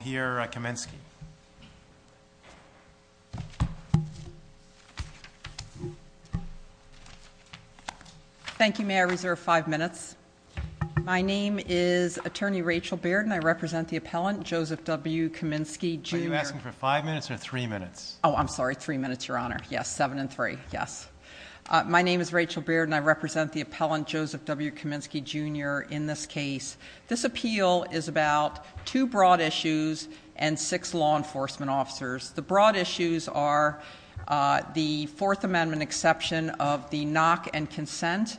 here at Kaminsky. Thank you. May I reserve five minutes? My name is attorney Rachel Bearden. I represent the appellant, Joseph W. Kaminsky Jr. Are you asking for five minutes or three minutes? Oh, I'm sorry. Three minutes, Your Honor. Yes. Seven and three. Yes. My name is Rachel Bearden. I represent the appellant, Joseph W. Kaminsky Jr. In this case, this appeal is about two broad issues and six law enforcement officers. The broad issues are the Fourth Amendment exception of the knock and consent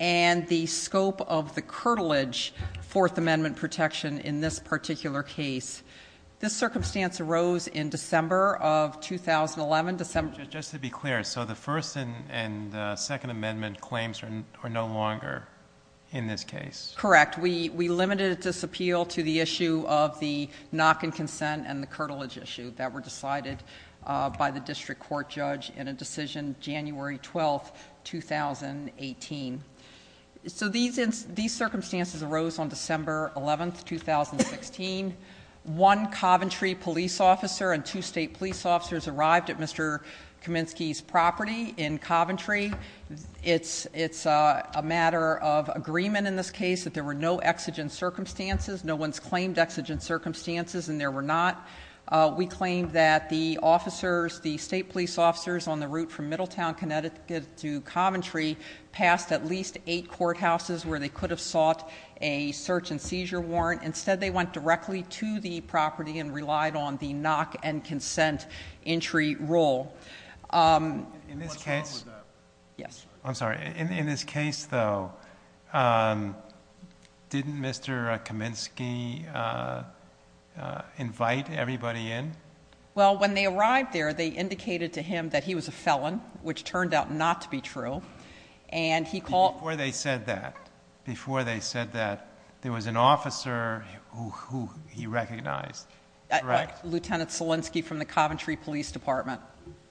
and the scope of the curtilage Fourth Amendment protection in this particular case. This circumstance arose in December of 2011. Just to be clear, so the First and Second Amendment claims are no longer in this case. Correct. We limited this appeal to the issue of the knock and consent and the curtilage issue that were decided by the district court judge in a decision January 12th, 2018. So these circumstances arose on December 11th, 2016. One Coventry police officer and two state police officers arrived at Mr. Kaminsky's property in Coventry. It's a matter of agreement in this case that there were no exigent circumstances. No one's claimed exigent circumstances and there were not. We claimed that the officers, the state police officers on the route from Middletown, Connecticut to Coventry passed at least eight courthouses where they could have sought a search and seizure warrant. Instead, they went directly to the property and relied on the knock and consent entry rule. In this case? Yes. I'm sorry. In this case, though, didn't Mr. Kaminsky invite everybody in? Well, when they arrived there, they indicated to him that he was a felon, which turned out not to be true. Before they said that, there was an officer who he recognized. Lieutenant Solinsky from the Coventry Police Department.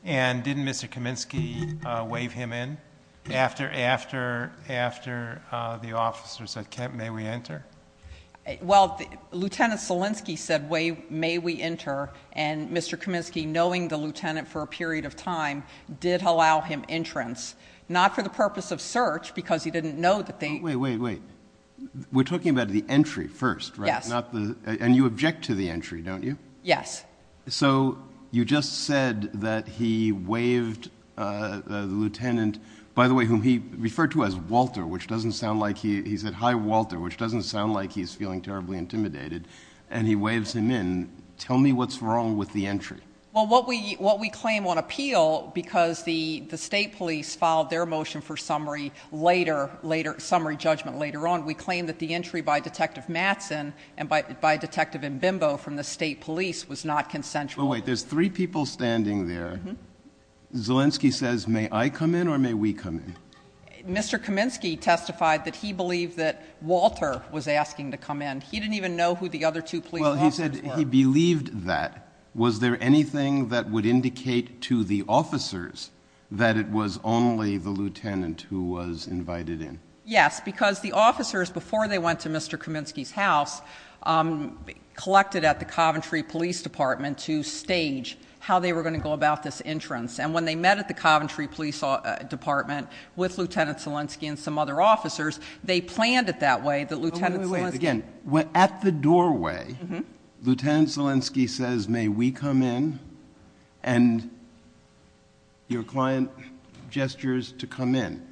And didn't Mr. Kaminsky wave him in after the officer said, may we enter? Well, Lieutenant Solinsky said, may we enter? And Mr. Kaminsky, knowing the lieutenant for a period of time, did allow him entrance. Not for the purpose of search because he didn't know that they... Wait, wait, wait. We're talking about the entry, don't you? Yes. So you just said that he waved the lieutenant, by the way, whom he referred to as Walter, which doesn't sound like he... He said, hi, Walter, which doesn't sound like he's feeling terribly intimidated. And he waves him in. Tell me what's wrong with the entry. Well, what we claim on appeal, because the state police filed their motion for summary judgment later on, we claim that the entry by Detective Matson and by Detective Matson and Bimbo from the state police was not consensual. But wait, there's three people standing there. Solinsky says, may I come in or may we come in? Mr. Kaminsky testified that he believed that Walter was asking to come in. He didn't even know who the other two police officers were. Well, he said he believed that. Was there anything that would indicate to the officers that it was only the lieutenant who was invited in? Yes, because the officers, before they went to Mr. Kaminsky's house, collected at the Coventry Police Department to stage how they were going to go about this entrance. And when they met at the Coventry Police Department with Lieutenant Solinsky and some other officers, they planned it that way. Again, at the doorway, Lieutenant Solinsky says, may we come in? And your client gestures to come in.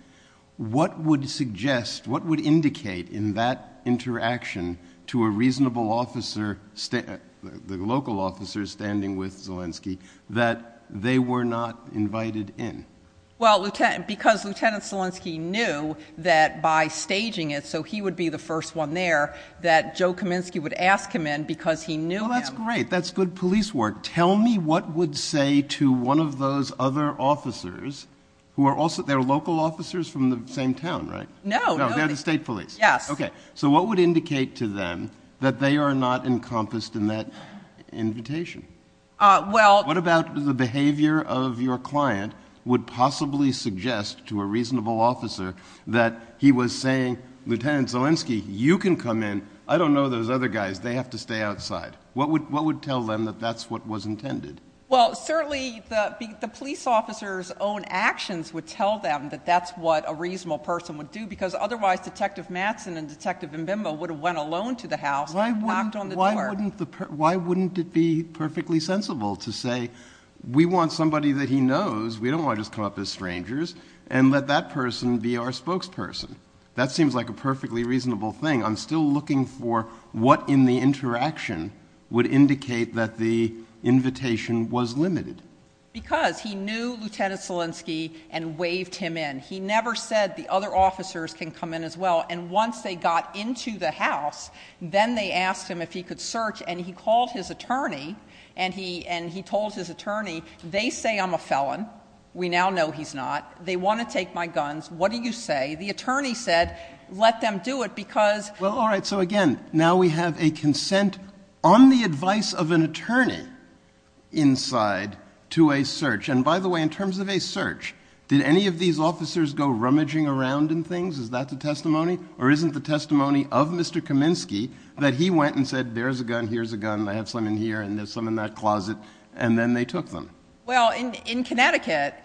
What would suggest, what would indicate in that interaction to a reasonable officer, the local officers standing with Solinsky, that they were not invited in? Well, because Lieutenant Solinsky knew that by staging it, so he would be the first one there, that Joe Kaminsky would ask him in because he knew him. Well, that's great. That's good police work. Tell me what would say to one of those other officers who are also, they're local officers from the same town, right? No. They're the state police. Yes. Okay. So what would indicate to them that they are not encompassed in that invitation? What about the behavior of your client would possibly suggest to a reasonable officer that he was saying, Lieutenant Solinsky, you can come in. I don't know those other guys. They have to stay outside. What would tell them that that's what was intended? Well, certainly the police officer's own actions would tell them that that's what a reasonable person would do because otherwise Detective Mattson and Detective Mbimbo would have went alone to the house and knocked on the door. Why wouldn't it be perfectly sensible to say, we want somebody that he knows. We don't want to just come up as strangers and let that person be our spokesperson. That seems like a perfectly reasonable thing. I'm still looking for what in the interaction would indicate that the invitation was limited. Because he knew Lieutenant Solinsky and waved him in. He never said the other officers can come in as well. And once they got into the house, then they asked him if he could search and he called his attorney and he told his attorney, they say I'm a felon. We now know he's not. They want to take my guns. What do you say? The attorney said, let them do it because... Well, all right. So again, now we have a consent on the advice of an attorney inside to a search. And by the way, in terms of a search, did any of these officers go rummaging around in things? Is that the testimony? Or isn't the testimony of Mr. Kaminsky that he went and said, there's a gun, here's a gun, I have some in here and there's some in that closet. And then they took them. Well, in Connecticut,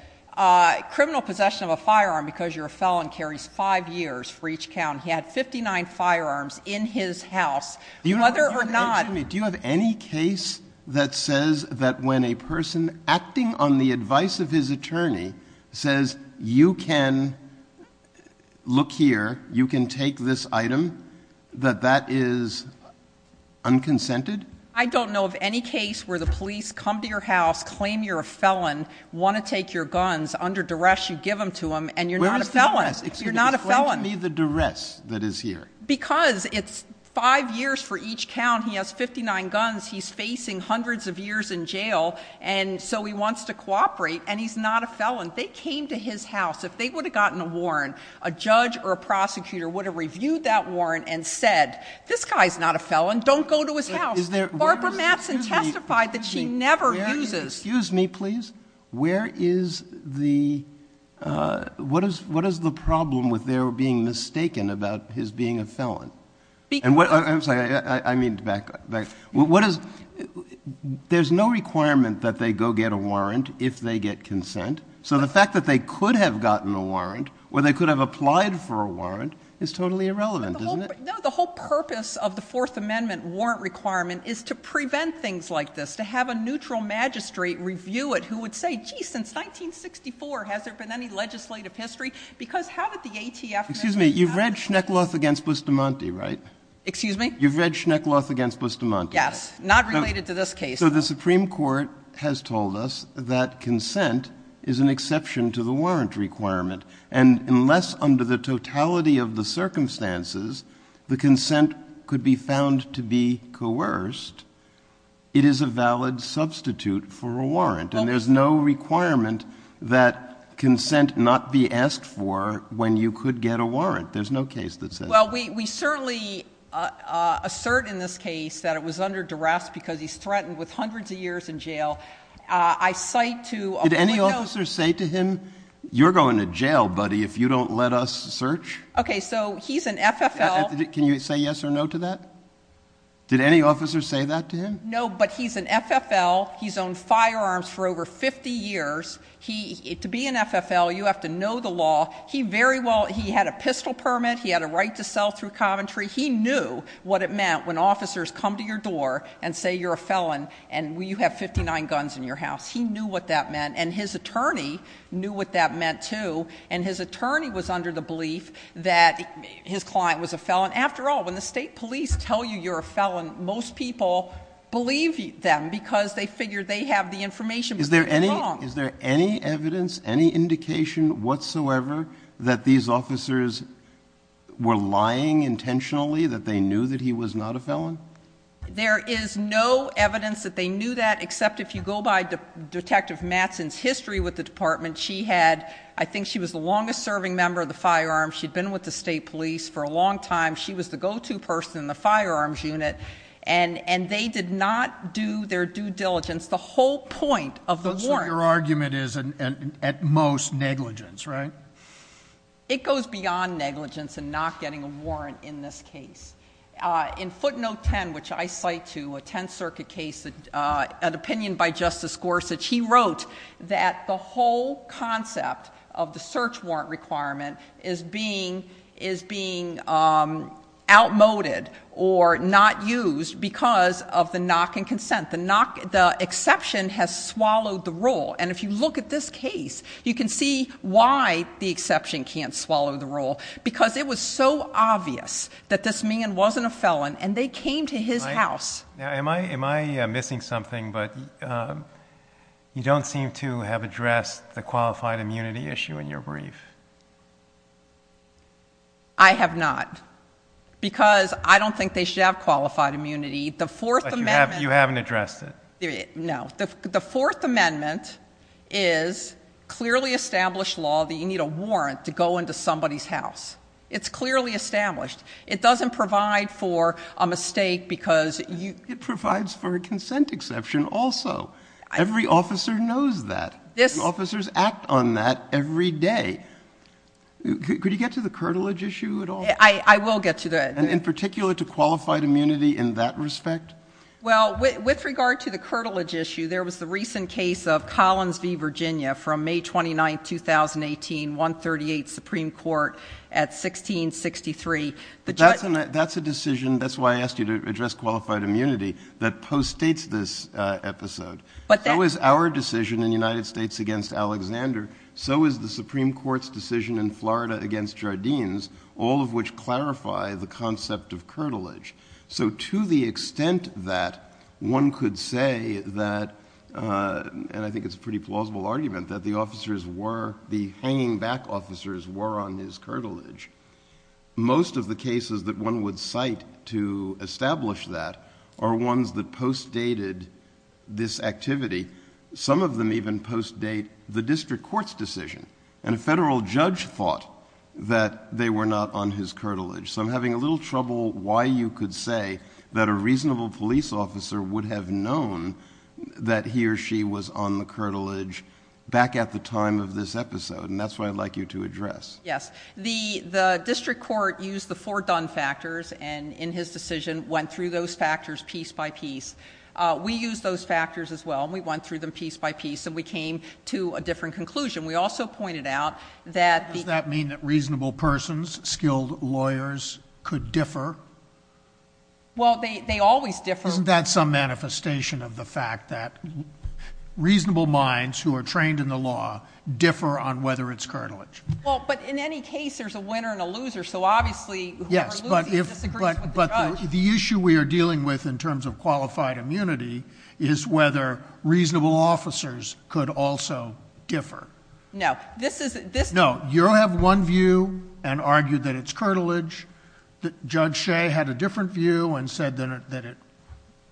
criminal possession of a firearm because you're a felon carries five years for each count. He had 59 firearms in his house, whether or not... Excuse me, do you have any case that says that when a person acting on the advice of his attorney says, you can look here, you can take this item, that that is unconsented? I don't know of any case where the police come to your house, claim you're a felon, want to take your guns under duress, you give them to him and you're not a felon. Where is the duress? You're not a felon. Explain to me the duress that is here. Because it's five years for each count. He has 59 guns. He's facing hundreds of years in jail. And so he wants to cooperate and he's not a felon. They came to his house. If they would have gotten a warrant, a judge or a prosecutor would have reviewed that warrant and said, this guy's not a felon. Don't go to his house. Barbara Mattson testified that she never uses... Excuse me, please. What is the problem with their being mistaken about his being a felon? I'm sorry, I need to back up. There's no requirement that they go get a warrant if they get consent. So the fact that they could have gotten a warrant, or they could have applied for a warrant, is totally irrelevant, isn't it? No, the whole purpose of the Fourth Amendment warrant requirement is to prevent things like this, to have a neutral magistrate review it who would say, gee, since 1964, has there been any legislative history? Because how did the ATF... Excuse me, you've read Schneckloth against Bustamante, right? Excuse me? You've read Schneckloth against Bustamante. Yes, not related to this case. So the Supreme Court has told us that consent is an exception to the warrant requirement. And unless under the totality of the circumstances, the consent could be found to be coerced, it is a valid substitute for a warrant. And there's no requirement that consent not be asked for when you could get a warrant. There's no case that says that. Well, we certainly assert in this case that it was under duress because he's threatened with hundreds of years in jail. I cite to... Did any officer say to him, you're going to jail, buddy, if you don't let us search? Okay, so he's an FFL... Can you say yes or no to that? Did any officer say that to him? No, but he's an FFL. He's owned firearms for over 50 years. To be an FFL, you have to know the law. He very well... He had a pistol permit. He had a right to sell through Coventry. He knew what it meant when officers come to your door and say you're a felon and you have 59 guns in your house. He knew what that meant. And his attorney knew what that meant, too. And his attorney was under the belief that his client was a felon. After all, when the state police tell you you're a felon, most people believe them because they figure they have the information, but they're wrong. Is there any evidence, any indication whatsoever that these officers were lying intentionally, that they knew that he was not a felon? There is no evidence that they knew that, except if you go by Detective Mattson's history with the department. She had... I think she was the longest serving member of the firearms. She'd been with the state police for a long time. She was the go-to person in the firearms unit, and they did not do their due diligence. The whole point of the warrant... So your argument is, at most, negligence, right? It goes beyond negligence and not getting a warrant in this case. In footnote 10, which I cite to a Tenth Circuit case, an opinion by Justice Gorsuch, he wrote that the whole concept of the search warrant requirement is being outmoded or not used because of the knock and consent. The exception has swallowed the rule. And if you look at this case, you can see why the exception can't swallow the rule, because it was so obvious that this man wasn't a felon, and they came to his house. Am I missing something? You don't seem to have addressed the qualified immunity issue in your brief. I have not, because I don't think they should have qualified immunity. But you haven't addressed it. No. The Fourth Amendment is clearly established law that you need a warrant to go into somebody's house. It's clearly established. It doesn't provide for a mistake because... It provides for a consent exception also. Every officer knows that. Officers act on that every day. Could you get to the curtilage issue at all? I will get to that. In particular, to qualified immunity in that respect? Well, with regard to the curtilage issue, there was the recent case of Collins v. Virginia from May 29, 2018, 138th Supreme Court at 1663. That's a decision, that's why I asked you to address qualified immunity, that postdates this episode. So is our decision in the United States against Alexander. So is the Supreme Court's decision in Florida against Jardines, all of which clarify the concept of curtilage. So to the extent that one could say that, and I think it's a pretty plausible argument, that the officers were, the hanging back officers were on his curtilage, most of the cases that one would cite to establish that are ones that postdated this activity. Some of them even postdate the district court's decision. And a federal judge thought that they were not on his curtilage. So I'm having a little trouble why you could say that a reasonable police officer would have known that he or she was on the curtilage back at the time of this episode. And that's why I'd like you to address. Yes. The district court used the four done factors and in his decision went through those factors piece by piece. We used those factors as well, and we went through them piece by piece and we came to a different conclusion. We also pointed out that the... ...skilled lawyers could differ. Well, they always differ. Isn't that some manifestation of the fact that reasonable minds who are trained in the law differ on whether it's curtilage? Well, but in any case, there's a winner and a loser. So obviously, whoever loses disagrees with the judge. But the issue we are dealing with in terms of qualified immunity is whether reasonable officers could also differ. No. This is... No. You have one view and argued that it's curtilage. Judge Shea had a different view and said that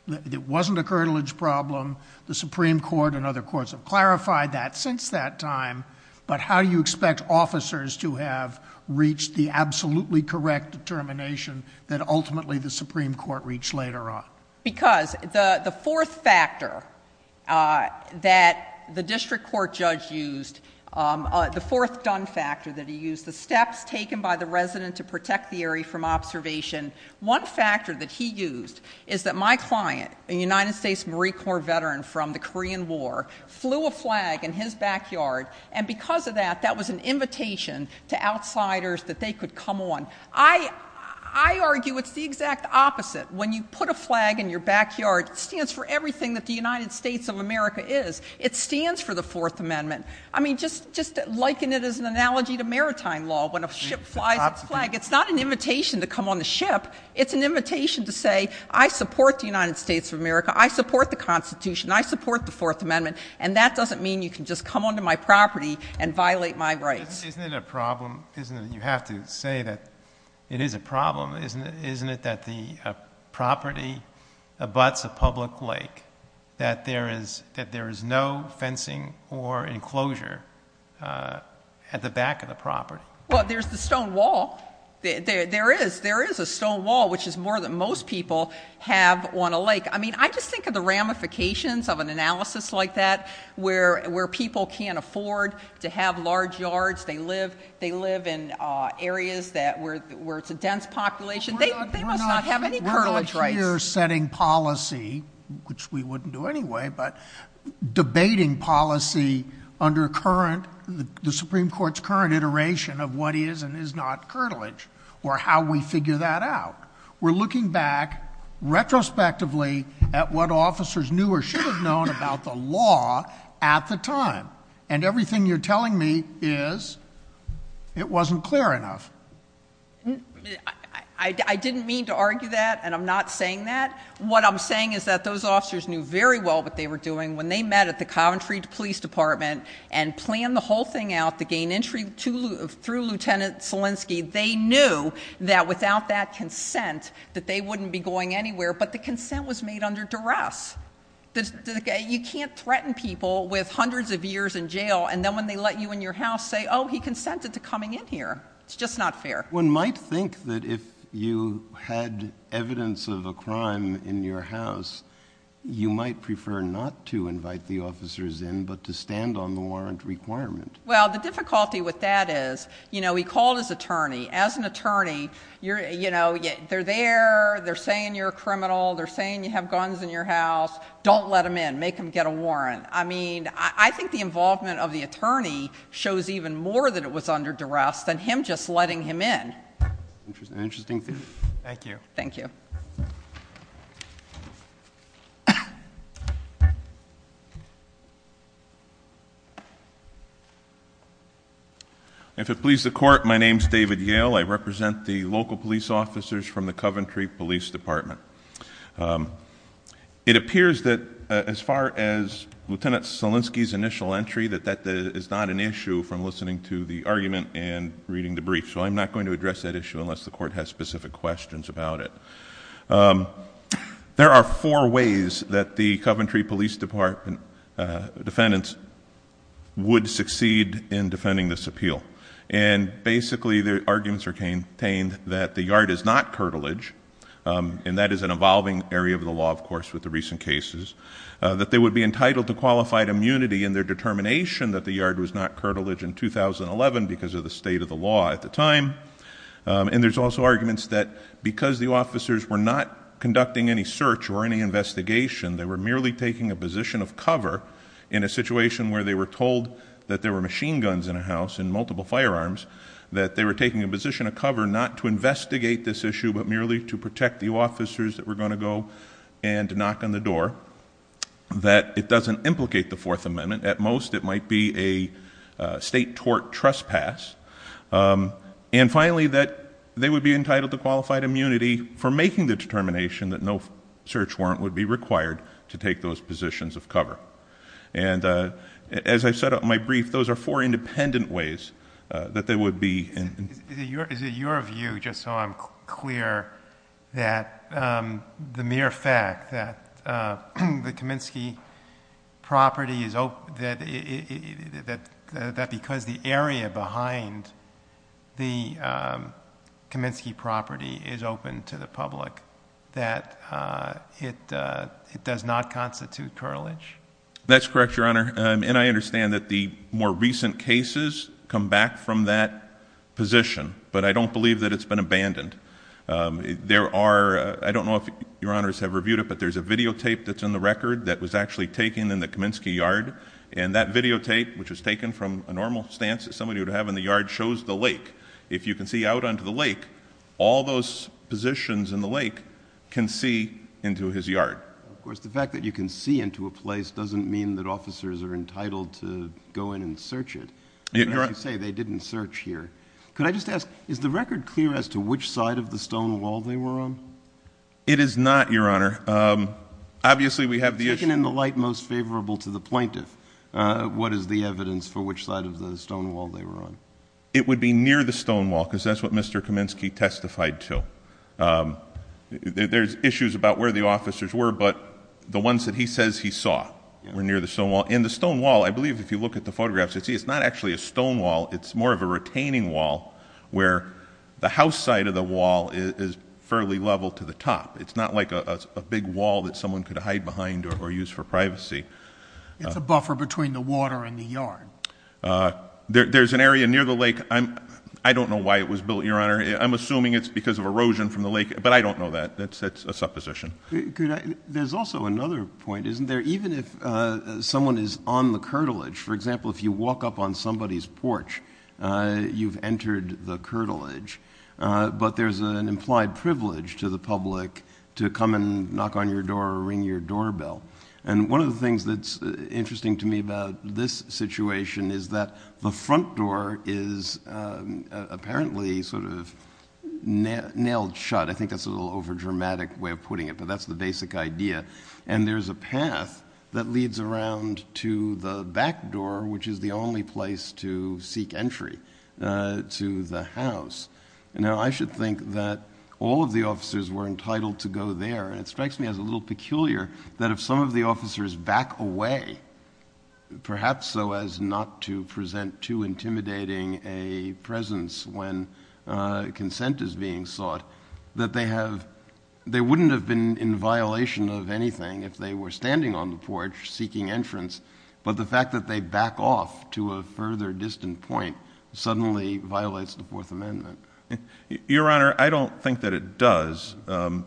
it wasn't a curtilage problem. The Supreme Court and other courts have clarified that since that time. But how do you expect officers to have reached the absolutely correct determination that ultimately the Supreme Court reached later on? Because the fourth factor that the district court judge used, the fourth done factor that he used, the steps taken by the resident to protect the area from observation, one factor that he used is that my client, a United States Marine Corps veteran from the Korean War, flew a flag in his backyard, and because of that, that was an invitation to outsiders that they could come on. I argue it's the exact opposite. When you put a flag in your backyard, it stands for everything that the United States of America is. It stands for the Fourth Amendment. I mean, just liken it as an analogy to maritime law, when a ship flies its flag. It's not an invitation to come on the ship. It's an invitation to say, I support the United States of America. I support the Constitution. I support the Fourth Amendment. And that doesn't mean you can just come onto my property and violate my rights. Isn't it a problem, isn't it, you have to say that it is a problem, isn't it, isn't it that the property abuts a public lake, that there is, that there is no fencing or enclosure at the back of the property? Well, there's the stone wall. There is, there is a stone wall, which is more than most people have on a lake. I mean, I just think of the ramifications of an analysis like that, where people can't afford to have large yards. They live, they live in areas that, where it's a dense population. They must not have any curtilage rights. We're not here setting policy, which we wouldn't do anyway, but debating policy under current, the Supreme Court's current iteration of what is and is not curtilage, or how we figure that out. We're looking back retrospectively at what officers knew or should have known about the law at the time, and everything you're telling me is, it wasn't clear enough. I didn't mean to argue that, and I'm not saying that. What I'm saying is that those officers knew very well what they were doing when they met at the Coventry Police Department and planned the whole thing out to gain entry through Lieutenant Selinsky. They knew that without that consent, that they wouldn't be going anywhere, but the consent was made under arrest. You can't threaten people with hundreds of years in jail, and then when they let you in your house say, oh, he consented to coming in here. It's just not fair. One might think that if you had evidence of a crime in your house, you might prefer not to invite the officers in, but to stand on the warrant requirement. Well, the difficulty with that is, he called his attorney. As an attorney, they're there, they're saying you're a criminal, they're saying you have guns in your house. Don't let him in. Make him get a warrant. I mean, I think the involvement of the attorney shows even more that it was under duress than him just letting him in. Interesting theory. Thank you. If it pleases the court, my name is David Yale. I represent the local police officers from the Coventry Police Department. It appears that as far as Lieutenant Solinsky's initial entry, that that is not an issue from listening to the argument and reading the brief, so I'm not going to address that issue unless the court has specific questions about it. There are four ways that the Coventry Police Department defendants would succeed in defending this appeal. Basically, their arguments are contained that the yard is not curtilage, and that is an evolving area of the law, of course, with the recent cases. That they would be entitled to qualified immunity in their determination that the yard was not curtilage in 2011 because of the state of the law at the time. There's also arguments that because the officers were not conducting any search or any investigation, they were merely taking a position of cover in a situation where they were told that there were machine guns in a house and multiple firearms, that they were taking a position of cover not to investigate this issue but merely to protect the officers that were going to go and knock on the door. That it doesn't implicate the Fourth Amendment. At most it might be a state tort trespass. And finally, that they would be entitled to qualified immunity for making the determination that no search warrant would be required to take those positions of cover. And as I said in my brief, those are four independent ways that they would be... Is it your view, just so I'm clear, that the mere fact that the Kaminsky property is... that because the area behind the Kaminsky property is open to the public, that it does not constitute curtilage? That's correct, Your Honor. And I understand that the more recent cases come back from that position. But I don't believe that it's been abandoned. There are... I don't know if Your Honors have reviewed it, but there's a videotape that's in the record that was actually taken in the Kaminsky yard. And that videotape, which was taken from a normal stance that somebody would have in the yard, shows the lake. If you can see out onto the lake, all those positions in the lake can see into his yard. Of course, the fact that you can see into a place doesn't mean that officers are entitled to go in and search it. You're right. As you say, they didn't search here. Could I just ask, is the record clear as to which side of the stone wall they were on? It is not, Your Honor. Obviously, we have the issue... Taken in the light most favorable to the plaintiff, what is the evidence for which side of the stone wall they were on? It would be near the stone wall, because that's what Mr. Kaminsky testified to. There's issues about where the officers were, but the ones that he says he saw were near the stone wall. And the stone wall, I believe if you look at the photographs, you see it's not actually a stone wall. It's more of a retaining wall where the house side of the wall is fairly level to the top. It's not like a big wall that someone could hide behind or use for privacy. It's a buffer between the water and the yard. There's an area near the lake. I don't know why it was built, Your Honor. I'm assuming it's because of erosion from the lake, but I don't know that. That's a supposition. There's also another point, isn't there? Even if someone is on the curtilage, for example, if you walk up on somebody's porch, you've entered the curtilage, but there's an implied privilege to the public to come and knock on your door or ring your doorbell. And one of the things that's interesting to me about this situation is that the front door is apparently sort of nailed shut. I think that's a little overdramatic way of putting it, but that's the basic idea. And there's a path that leads around to the back door, which is the only place to seek entry to the house. Now, I should think that all of the officers were entitled to go there, and it strikes me as a little peculiar that if some of the officers back away, perhaps so as not to present too intimidating a presence when consent is being sought, that they wouldn't have been in violation of anything if they were standing on the porch seeking entrance, but the fact that they back off to a further distant point suddenly violates the Fourth Amendment. Your Honor, I don't think that it does.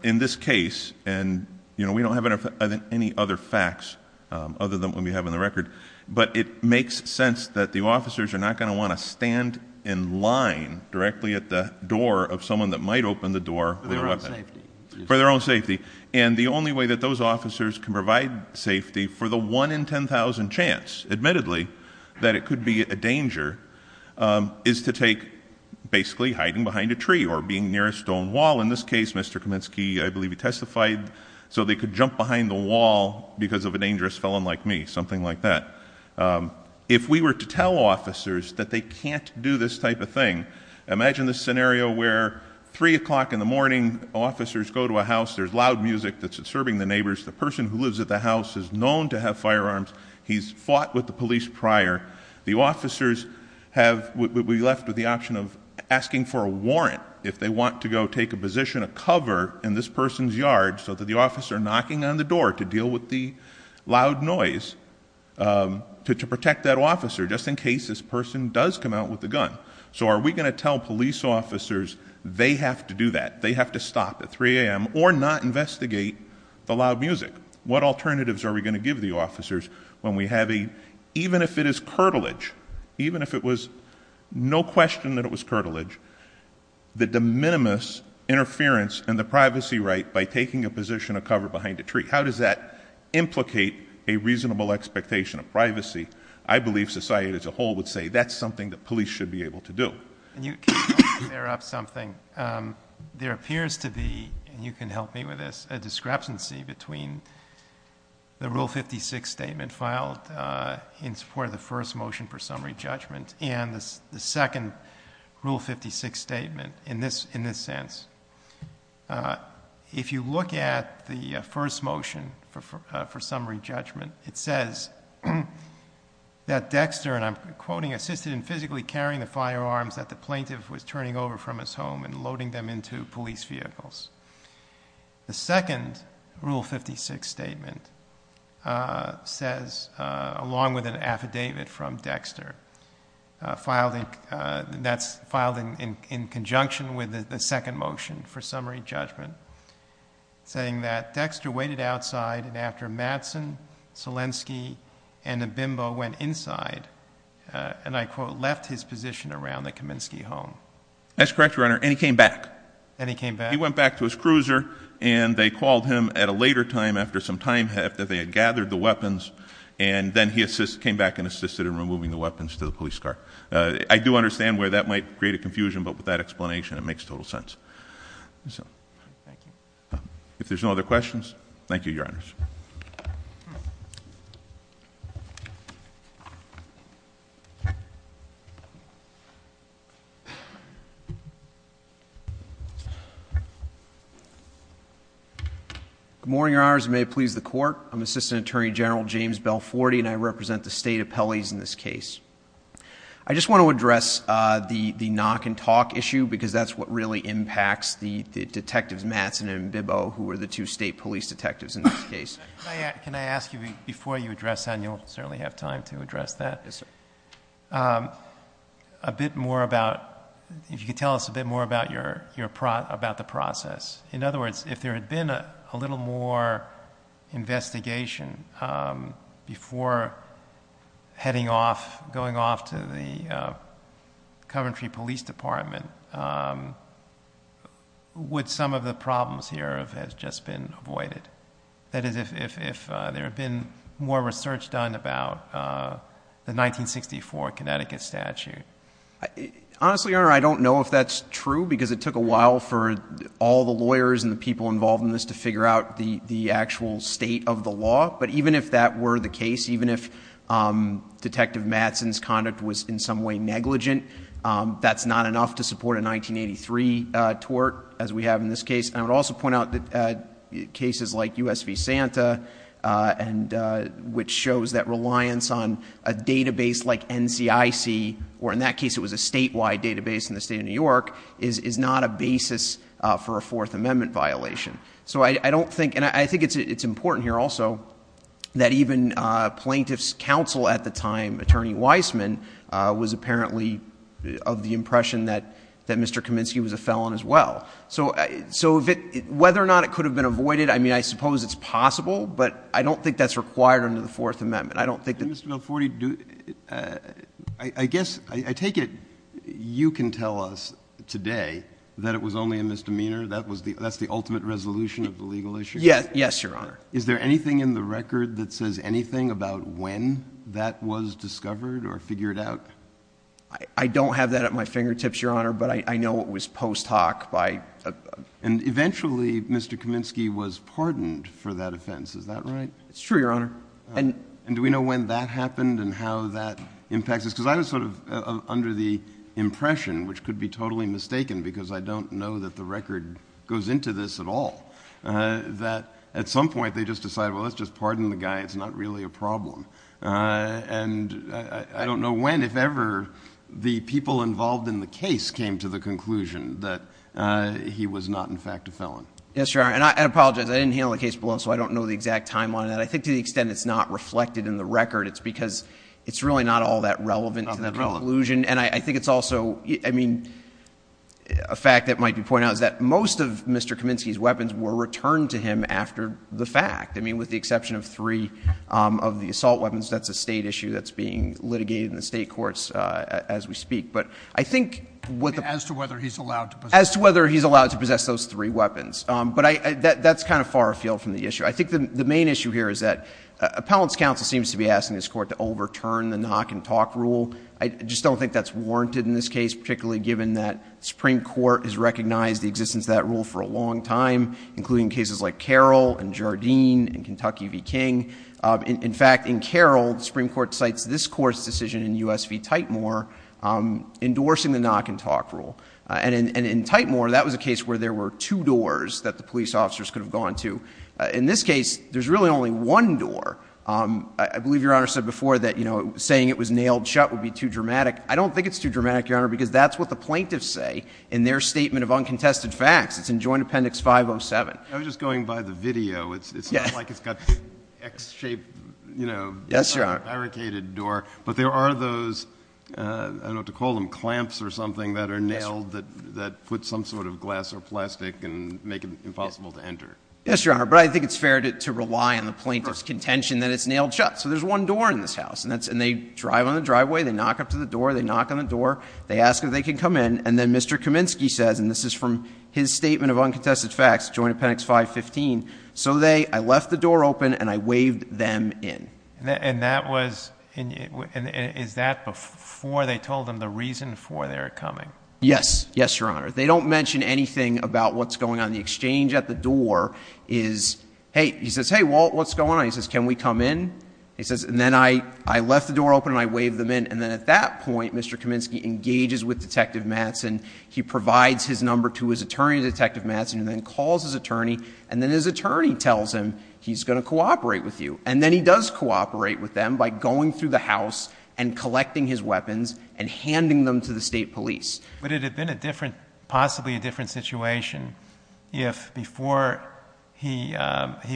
In this case, and we don't have any other facts other than what we have on the record, but it makes sense that the officers are not going to want to stand in line directly at the door of someone that might open the door for their own safety. And the only way that those officers can provide safety for the 1 in 10,000 chance, admittedly, that it could be a danger, is to take basically hiding behind a tree or being near a stone wall. In this case, Mr. Kaminsky, I believe he testified, so they could jump behind the wall because of a dangerous felon like me, something like that. If we were to tell officers that they can't do this type of thing, imagine this scenario where 3 o'clock in the morning, officers go to a house, there's loud music that's disturbing the neighbors, the person who lives at the house is known to have firearms, he's fought with the police prior. The officers have, we left with the option of asking for a warrant if they want to go take a position, a cover in this person's yard so that the officer knocking on the door to deal with the loud noise, to protect that officer just in case this person does come out with a gun. So are we going to tell police officers they have to do that, they have to stop at 3 a.m. or not investigate the loud music? What alternatives are we going to give the officers when we have a, even if it is curtilage, even if it is a question that it was curtilage, the de minimis interference in the privacy right by taking a position of cover behind a tree, how does that implicate a reasonable expectation of privacy? I believe society as a whole would say that's something that police should be able to do. Can you clear up something? There appears to be, and you can help me with this, a discrepancy between the Rule 56 statement filed in support of the first motion for summary judgment and the second Rule 56 statement in this sense. If you look at the first motion for summary judgment, it says that Dexter, and I'm quoting, assisted in physically carrying the firearms that the plaintiff was turning over from his home and loading them into police vehicles. The second Rule 56 statement says, along with an affidavit from Dexter, filed in conjunction with the second motion for summary judgment, saying that Dexter waited outside and after Madsen, Selensky, and Abimbo went inside, and I quote, left his position around the Kaminsky home. That's correct, Your Honor, and he came back. And he came back? He went back to his cruiser, and they called him at a later time after some time, after they had gathered the weapons, and then he came back and assisted in removing the weapons to the police car. I do understand where that might create a confusion, but with that explanation it makes total sense. Thank you. If there's no other questions, thank you, Your Honors. Good morning, Your Honors, and may it please the Court. I'm Assistant Attorney General James Belforti, and I represent the State Appellees in this case. I just want to address the knock and talk issue, because that's what really impacts the detectives Madsen and Abimbo, who were the two state police detectives in this case. Can I ask you, before you address that, and you'll certainly have time to address that, a bit more about, if you could tell us a bit more about the process. In other words, if there had been a little more investigation before heading off, going off to the Coventry Police Department, would some of the problems here have just been avoided? That is, if there had been more research done about the 1964 Connecticut statute. Honestly, Your Honor, I don't know if that's true, because it took a while for all the lawyers and the people involved in this to figure out the actual state of the law. But even if that were the case, even if Detective Madsen's conduct was in some way negligent, that's not enough to support a 1983 tort, as we have in this case. I would also point out that cases like US v. Santa, which shows that reliance on a database like NCIC, or in that case it was a statewide database in the state of New York, is not a basis for a Fourth Amendment violation. So I don't think, and I think it's important here also, that even Plaintiff's Counsel at the time, Attorney Weissman, was apparently of the impression that Mr. Kaminsky was a felon as well. So whether or not it could have been avoided, I mean, I suppose it's possible, but I don't think that's required under the Fourth Amendment. I don't think that— Mr. Milleforti, I guess, I take it you can tell us today that it was only a misdemeanor? That's the ultimate resolution of the legal issue? Yes, Your Honor. Is there anything in the record that says anything about when that was discovered or figured out? I don't have that at my fingertips, Your Honor, but I know it was post hoc by— And eventually Mr. Kaminsky was pardoned for that offense, is that right? It's true, Your Honor. And do we know when that happened and how that impacts us? Because I was sort of under the impression, which could be totally mistaken because I don't know that the record goes into this at all, that at some point they just decided, well, let's just pardon the guy, it's not really a problem. And I don't know when, if ever, the people involved in the case came to the conclusion that he was not, in fact, a felon. Yes, Your Honor. And I apologize, I didn't handle the case below, so I don't know the exact timeline of that. I think to the extent it's not reflected in the record, it's because it's really not all that relevant to the conclusion. And I think it's also, I mean, a fact that might be pointed out is that most of Mr. Kaminsky's weapons were returned to him after the fact. I mean, with the exception of three of the assault weapons, that's a State issue that's being litigated in the State courts as we speak. But I think what the— As to whether he's allowed to possess— As to whether he's allowed to possess those three weapons. But that's kind of far afield from the issue. I think the main issue here is that appellant's counsel seems to be this Court to overturn the knock-and-talk rule. I just don't think that's warranted in this case, particularly given that the Supreme Court has recognized the existence of that rule for a long time, including cases like Carroll and Jardine and Kentucky v. King. In fact, in Carroll, the Supreme Court cites this Court's decision in U.S. v. Tightmore endorsing the knock-and-talk rule. And in Tightmore, that was a case where there were two doors that the police officers could have gone to. In this case, there's really only one door. I believe Your Honor said before that, you know, saying it was nailed shut would be too dramatic. I don't think it's too dramatic, Your Honor, because that's what the plaintiffs say in their statement of uncontested facts. It's in Joint Appendix 507. I was just going by the video. It's not like it's got an X-shaped, you know— Yes, Your Honor. —barricaded door. But there are those, I don't know what to call them, clamps or something that are nailed that put some sort of glass or plastic and make it impossible to enter. Yes, Your Honor. But I think it's fair to rely on the plaintiff's contention that it's nailed shut. So there's one door in this house. And they drive on the driveway. They knock up to the door. They knock on the door. They ask if they can come in. And then Mr. Kaminsky says, and this is from his statement of uncontested facts, Joint Appendix 515, so they—I left the door open and I waved them in. And that was—and is that before they told them the reason for their coming? Yes. Yes, Your Honor. They don't mention anything about what's going on in the exchange at the door is, hey, he says, hey, Walt, what's going on? He says, can we come in? He says, and then I left the door open and I waved them in. And then at that point, Mr. Kaminsky engages with Detective Mattson. He provides his number to his attorney, Detective Mattson, and then calls his attorney. And then his attorney tells him he's going to cooperate with you. And then he does cooperate with them by going through the house and collecting his weapons and handing them to the state police. But it had been a different—possibly a different situation if before he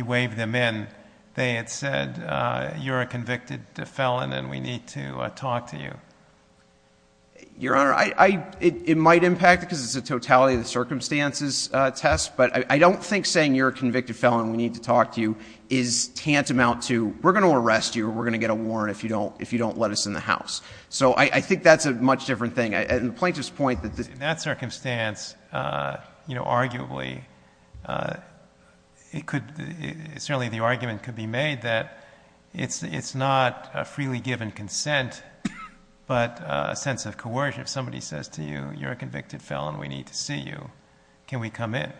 waved them in, they had said, you're a convicted felon and we need to talk to you. Your Honor, I—it might impact it because it's a totality of the circumstances test, but I don't think saying you're a convicted felon and we need to talk to you is tantamount to, we're going to arrest you or we're going to get a warrant if you don't—if you don't let us in the house. So I think that's a much different thing. And the plaintiff's point that— In that circumstance, you know, arguably, it could—certainly the argument could be made that it's not a freely given consent, but a sense of coercion. If somebody says to you, you're a convicted felon, we need to see you, can we come in?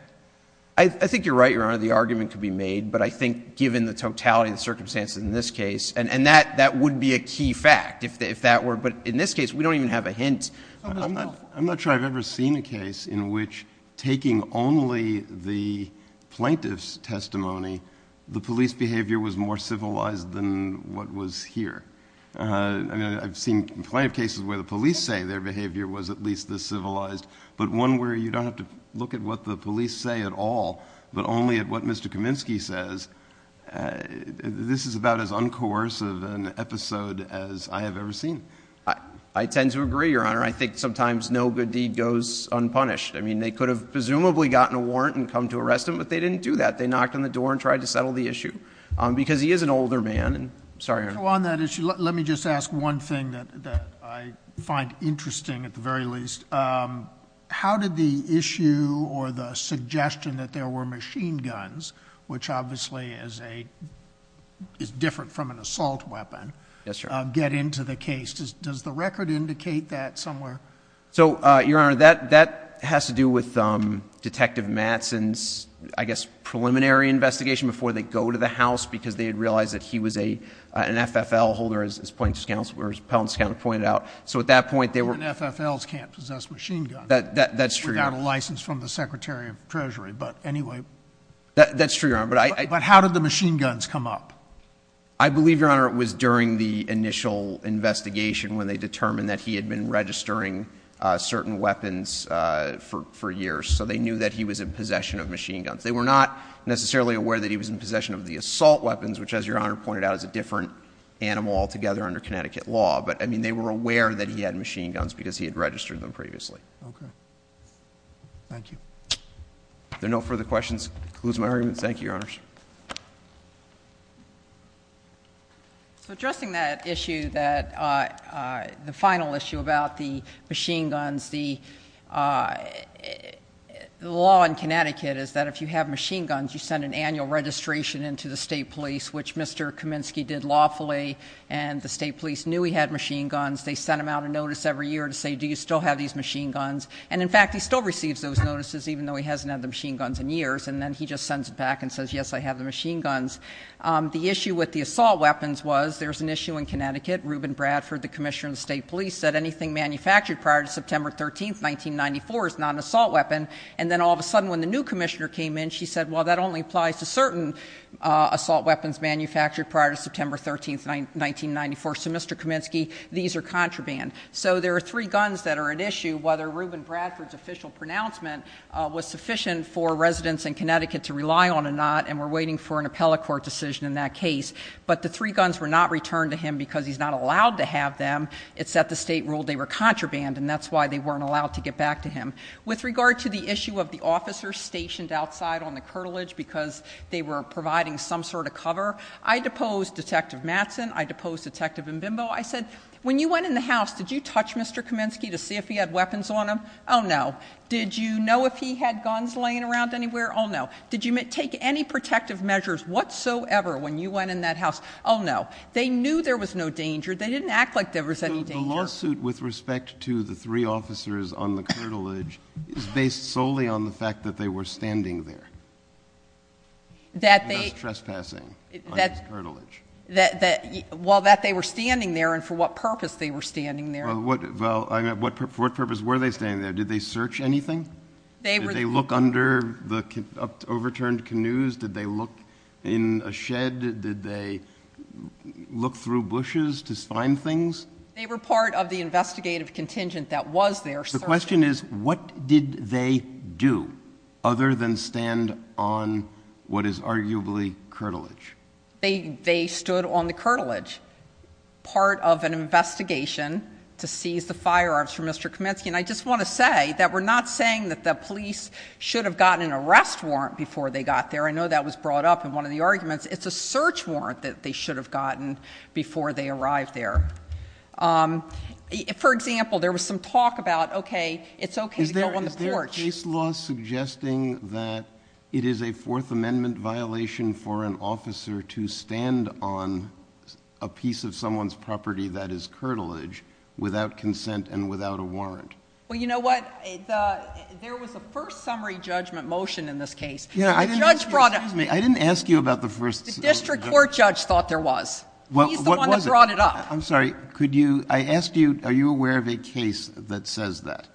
I think you're right, Your Honor. The argument could be made, but I think given the totality of the circumstances in this case—and that would be a key fact if that were—but in this case, we don't even have a hint. I'm not sure I've ever seen a case in which taking only the plaintiff's testimony, the police behavior was more civilized than what was here. I've seen plenty of cases where the police say their behavior was at least this civilized, but one where you don't have to look at what the police say at all, but only at what Mr. Kaminsky says. This is about as uncoercive an episode as I have ever seen. I tend to agree, Your Honor. I think sometimes no good deed goes unpunished. I mean, they could have presumably gotten a warrant and come to arrest him, but they didn't do that. They knocked on the door and tried to settle the issue, because he is an older man. And I'm sorry, Your Honor. So on that issue, let me just ask one thing that I find interesting, at the very least. How did the issue or the suggestion that there were machine guns, which obviously is different from an assault weapon, get into the case? Does the record indicate that somewhere? So, Your Honor, that has to do with Detective Mattson's, I guess, preliminary investigation before they go to the House, because they had realized that he was an FFL holder, as Appellant's Counselor pointed out. Even FFLs can't possess machine guns without a license from the Secretary of Treasury. But anyway. That's true, Your Honor. But how did the machine guns come up? I believe, Your Honor, it was during the initial investigation when they determined that he had been registering certain weapons for years, so they knew that he was in possession of machine guns. They were not necessarily aware that he was in possession of the assault weapons, which, as Your Honor pointed out, is a different animal altogether under Connecticut law. But, I mean, they were aware that he had machine guns because he had registered them previously. Okay. Thank you. If there are no further questions, I'll close my argument. Thank you, Your Honors. So, addressing that issue, the final issue about the machine guns, the law in Connecticut is that if you have machine guns, you send an annual registration in to the State Police, which Mr. Kaminsky did lawfully. And the State Police knew he had machine guns. They sent him out a notice every year to say, do you still have these machine guns? And in fact, he still receives those notices, even though he hasn't had the machine guns in years. And then he just sends it back and says, yes, I have the machine guns. The issue with the assault weapons was, there's an issue in Connecticut, Reuben Bradford, the Commissioner of the State Police, said anything manufactured prior to September 13th, 1994, is not an assault weapon. And then all of a sudden, when the new Commissioner came in, she said, well, that only applies to certain assault weapons manufactured prior to September 13th, 1994. So, Mr. Kaminsky, these are contraband. So there are three guns that are at issue. Whether Reuben Bradford's official pronouncement was sufficient for residents in Connecticut to rely on or not, and we're waiting for an appellate court decision in that case. But the three guns were not returned to him because he's not allowed to have them. It's that the state ruled they were contraband, and that's why they weren't allowed to get back to him. With regard to the issue of the officers stationed outside on the curtilage because they were providing some sort of cover, I deposed Detective Mattson, I deposed Detective Mbimbo. I said, when you went in the house, did you touch Mr. Kaminsky to see if he had weapons on him? Oh, no. Did you know if he had guns laying around anywhere? Oh, no. Did you take any protective measures whatsoever when you went in that house? Oh, no. They knew there was no danger. They didn't act like there was any danger. So the lawsuit with respect to the three officers on the curtilage is based solely on the fact that they were standing there. That they — And that's trespassing on his curtilage. That — well, that they were standing there, and for what purpose they were standing there. Well, for what purpose were they standing there? Did they search anything? They were — Did they look under the overturned canoes? Did they look in a shed? Did they look through bushes to find things? They were part of the investigative contingent that was there searching. The question is, what did they do other than stand on what is arguably curtilage? They stood on the curtilage, part of an investigation to seize the firearms from Mr. Kaminsky. And I just want to say that we're not saying that the police should have gotten an arrest warrant before they got there. I know that was brought up in one of the arguments. It's a search warrant that they should have gotten before they arrived there. For example, there was some talk about, OK, it's OK to go on the porch. Is the case law suggesting that it is a Fourth Amendment violation for an officer to stand on a piece of someone's property that is curtilage without consent and without a warrant? Well, you know what? There was a first summary judgment motion in this case. Yeah, I didn't — The judge brought up — Excuse me. I didn't ask you about the first — The district court judge thought there was. Well, what was it? He's the one that brought it up. I'm sorry. Could you — I asked you, are you aware of a case that says that?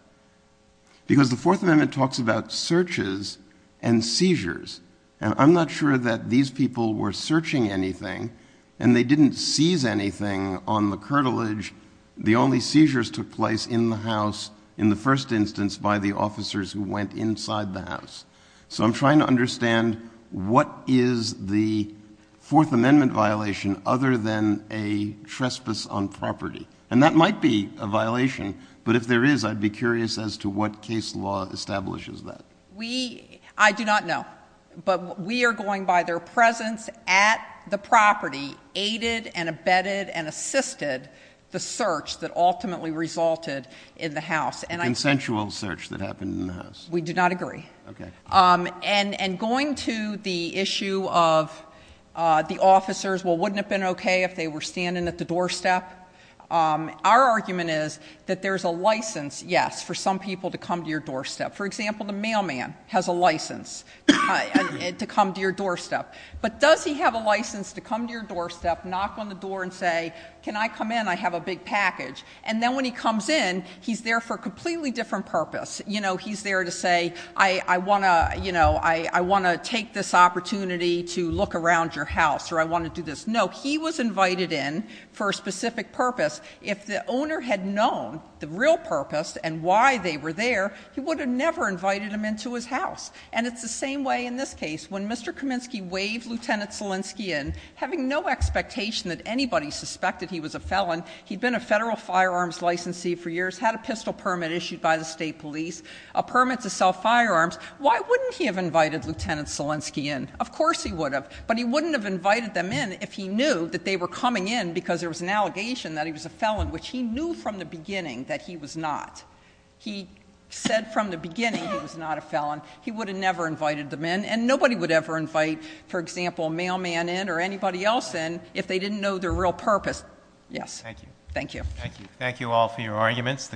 Because the Fourth Amendment talks about searches and seizures, and I'm not sure that these people were searching anything, and they didn't seize anything on the curtilage. The only seizures took place in the house, in the first instance, by the officers who went inside the house. So I'm trying to understand what is the Fourth Amendment violation other than a trespass on property. And that might be a violation, but if there is, I'd be curious as to what case law establishes that. We — I do not know. But we are going by their presence at the property aided and abetted and assisted the search that ultimately resulted in the house. And I — A consensual search that happened in the house. We do not agree. OK. And going to the issue of the officers, well, wouldn't it have been OK if they were standing at the doorstep? Our argument is that there's a license, yes, for some people to come to your doorstep. For example, the mailman has a license to come to your doorstep. But does he have a license to come to your doorstep, knock on the door and say, can I come in? I have a big package. And then when he comes in, he's there for a completely different purpose. You know, he's there to say, I want to — you know, I want to take this opportunity to look around your house, or I want to do this. No. He was invited in for a specific purpose. If the owner had known the real purpose and why they were there, he would have never invited them into his house. And it's the same way in this case. When Mr. Kaminsky waved Lieutenant Selensky in, having no expectation that anybody suspected he was a felon — he'd been a federal firearms licensee for years, had a pistol permit issued by the state police, a permit to sell firearms — why wouldn't he have invited Lieutenant Selensky in? Of course he would have. But he wouldn't have invited them in if he knew that they were coming in because there was an allegation that he was a felon, which he knew from the beginning that he was not. He said from the beginning he was not a felon. He would have never invited them in. And nobody would ever invite, for example, a mailman in or anybody else in if they didn't know their real purpose. Yes. Thank you. Thank you. Thank you. Thank you all for your arguments.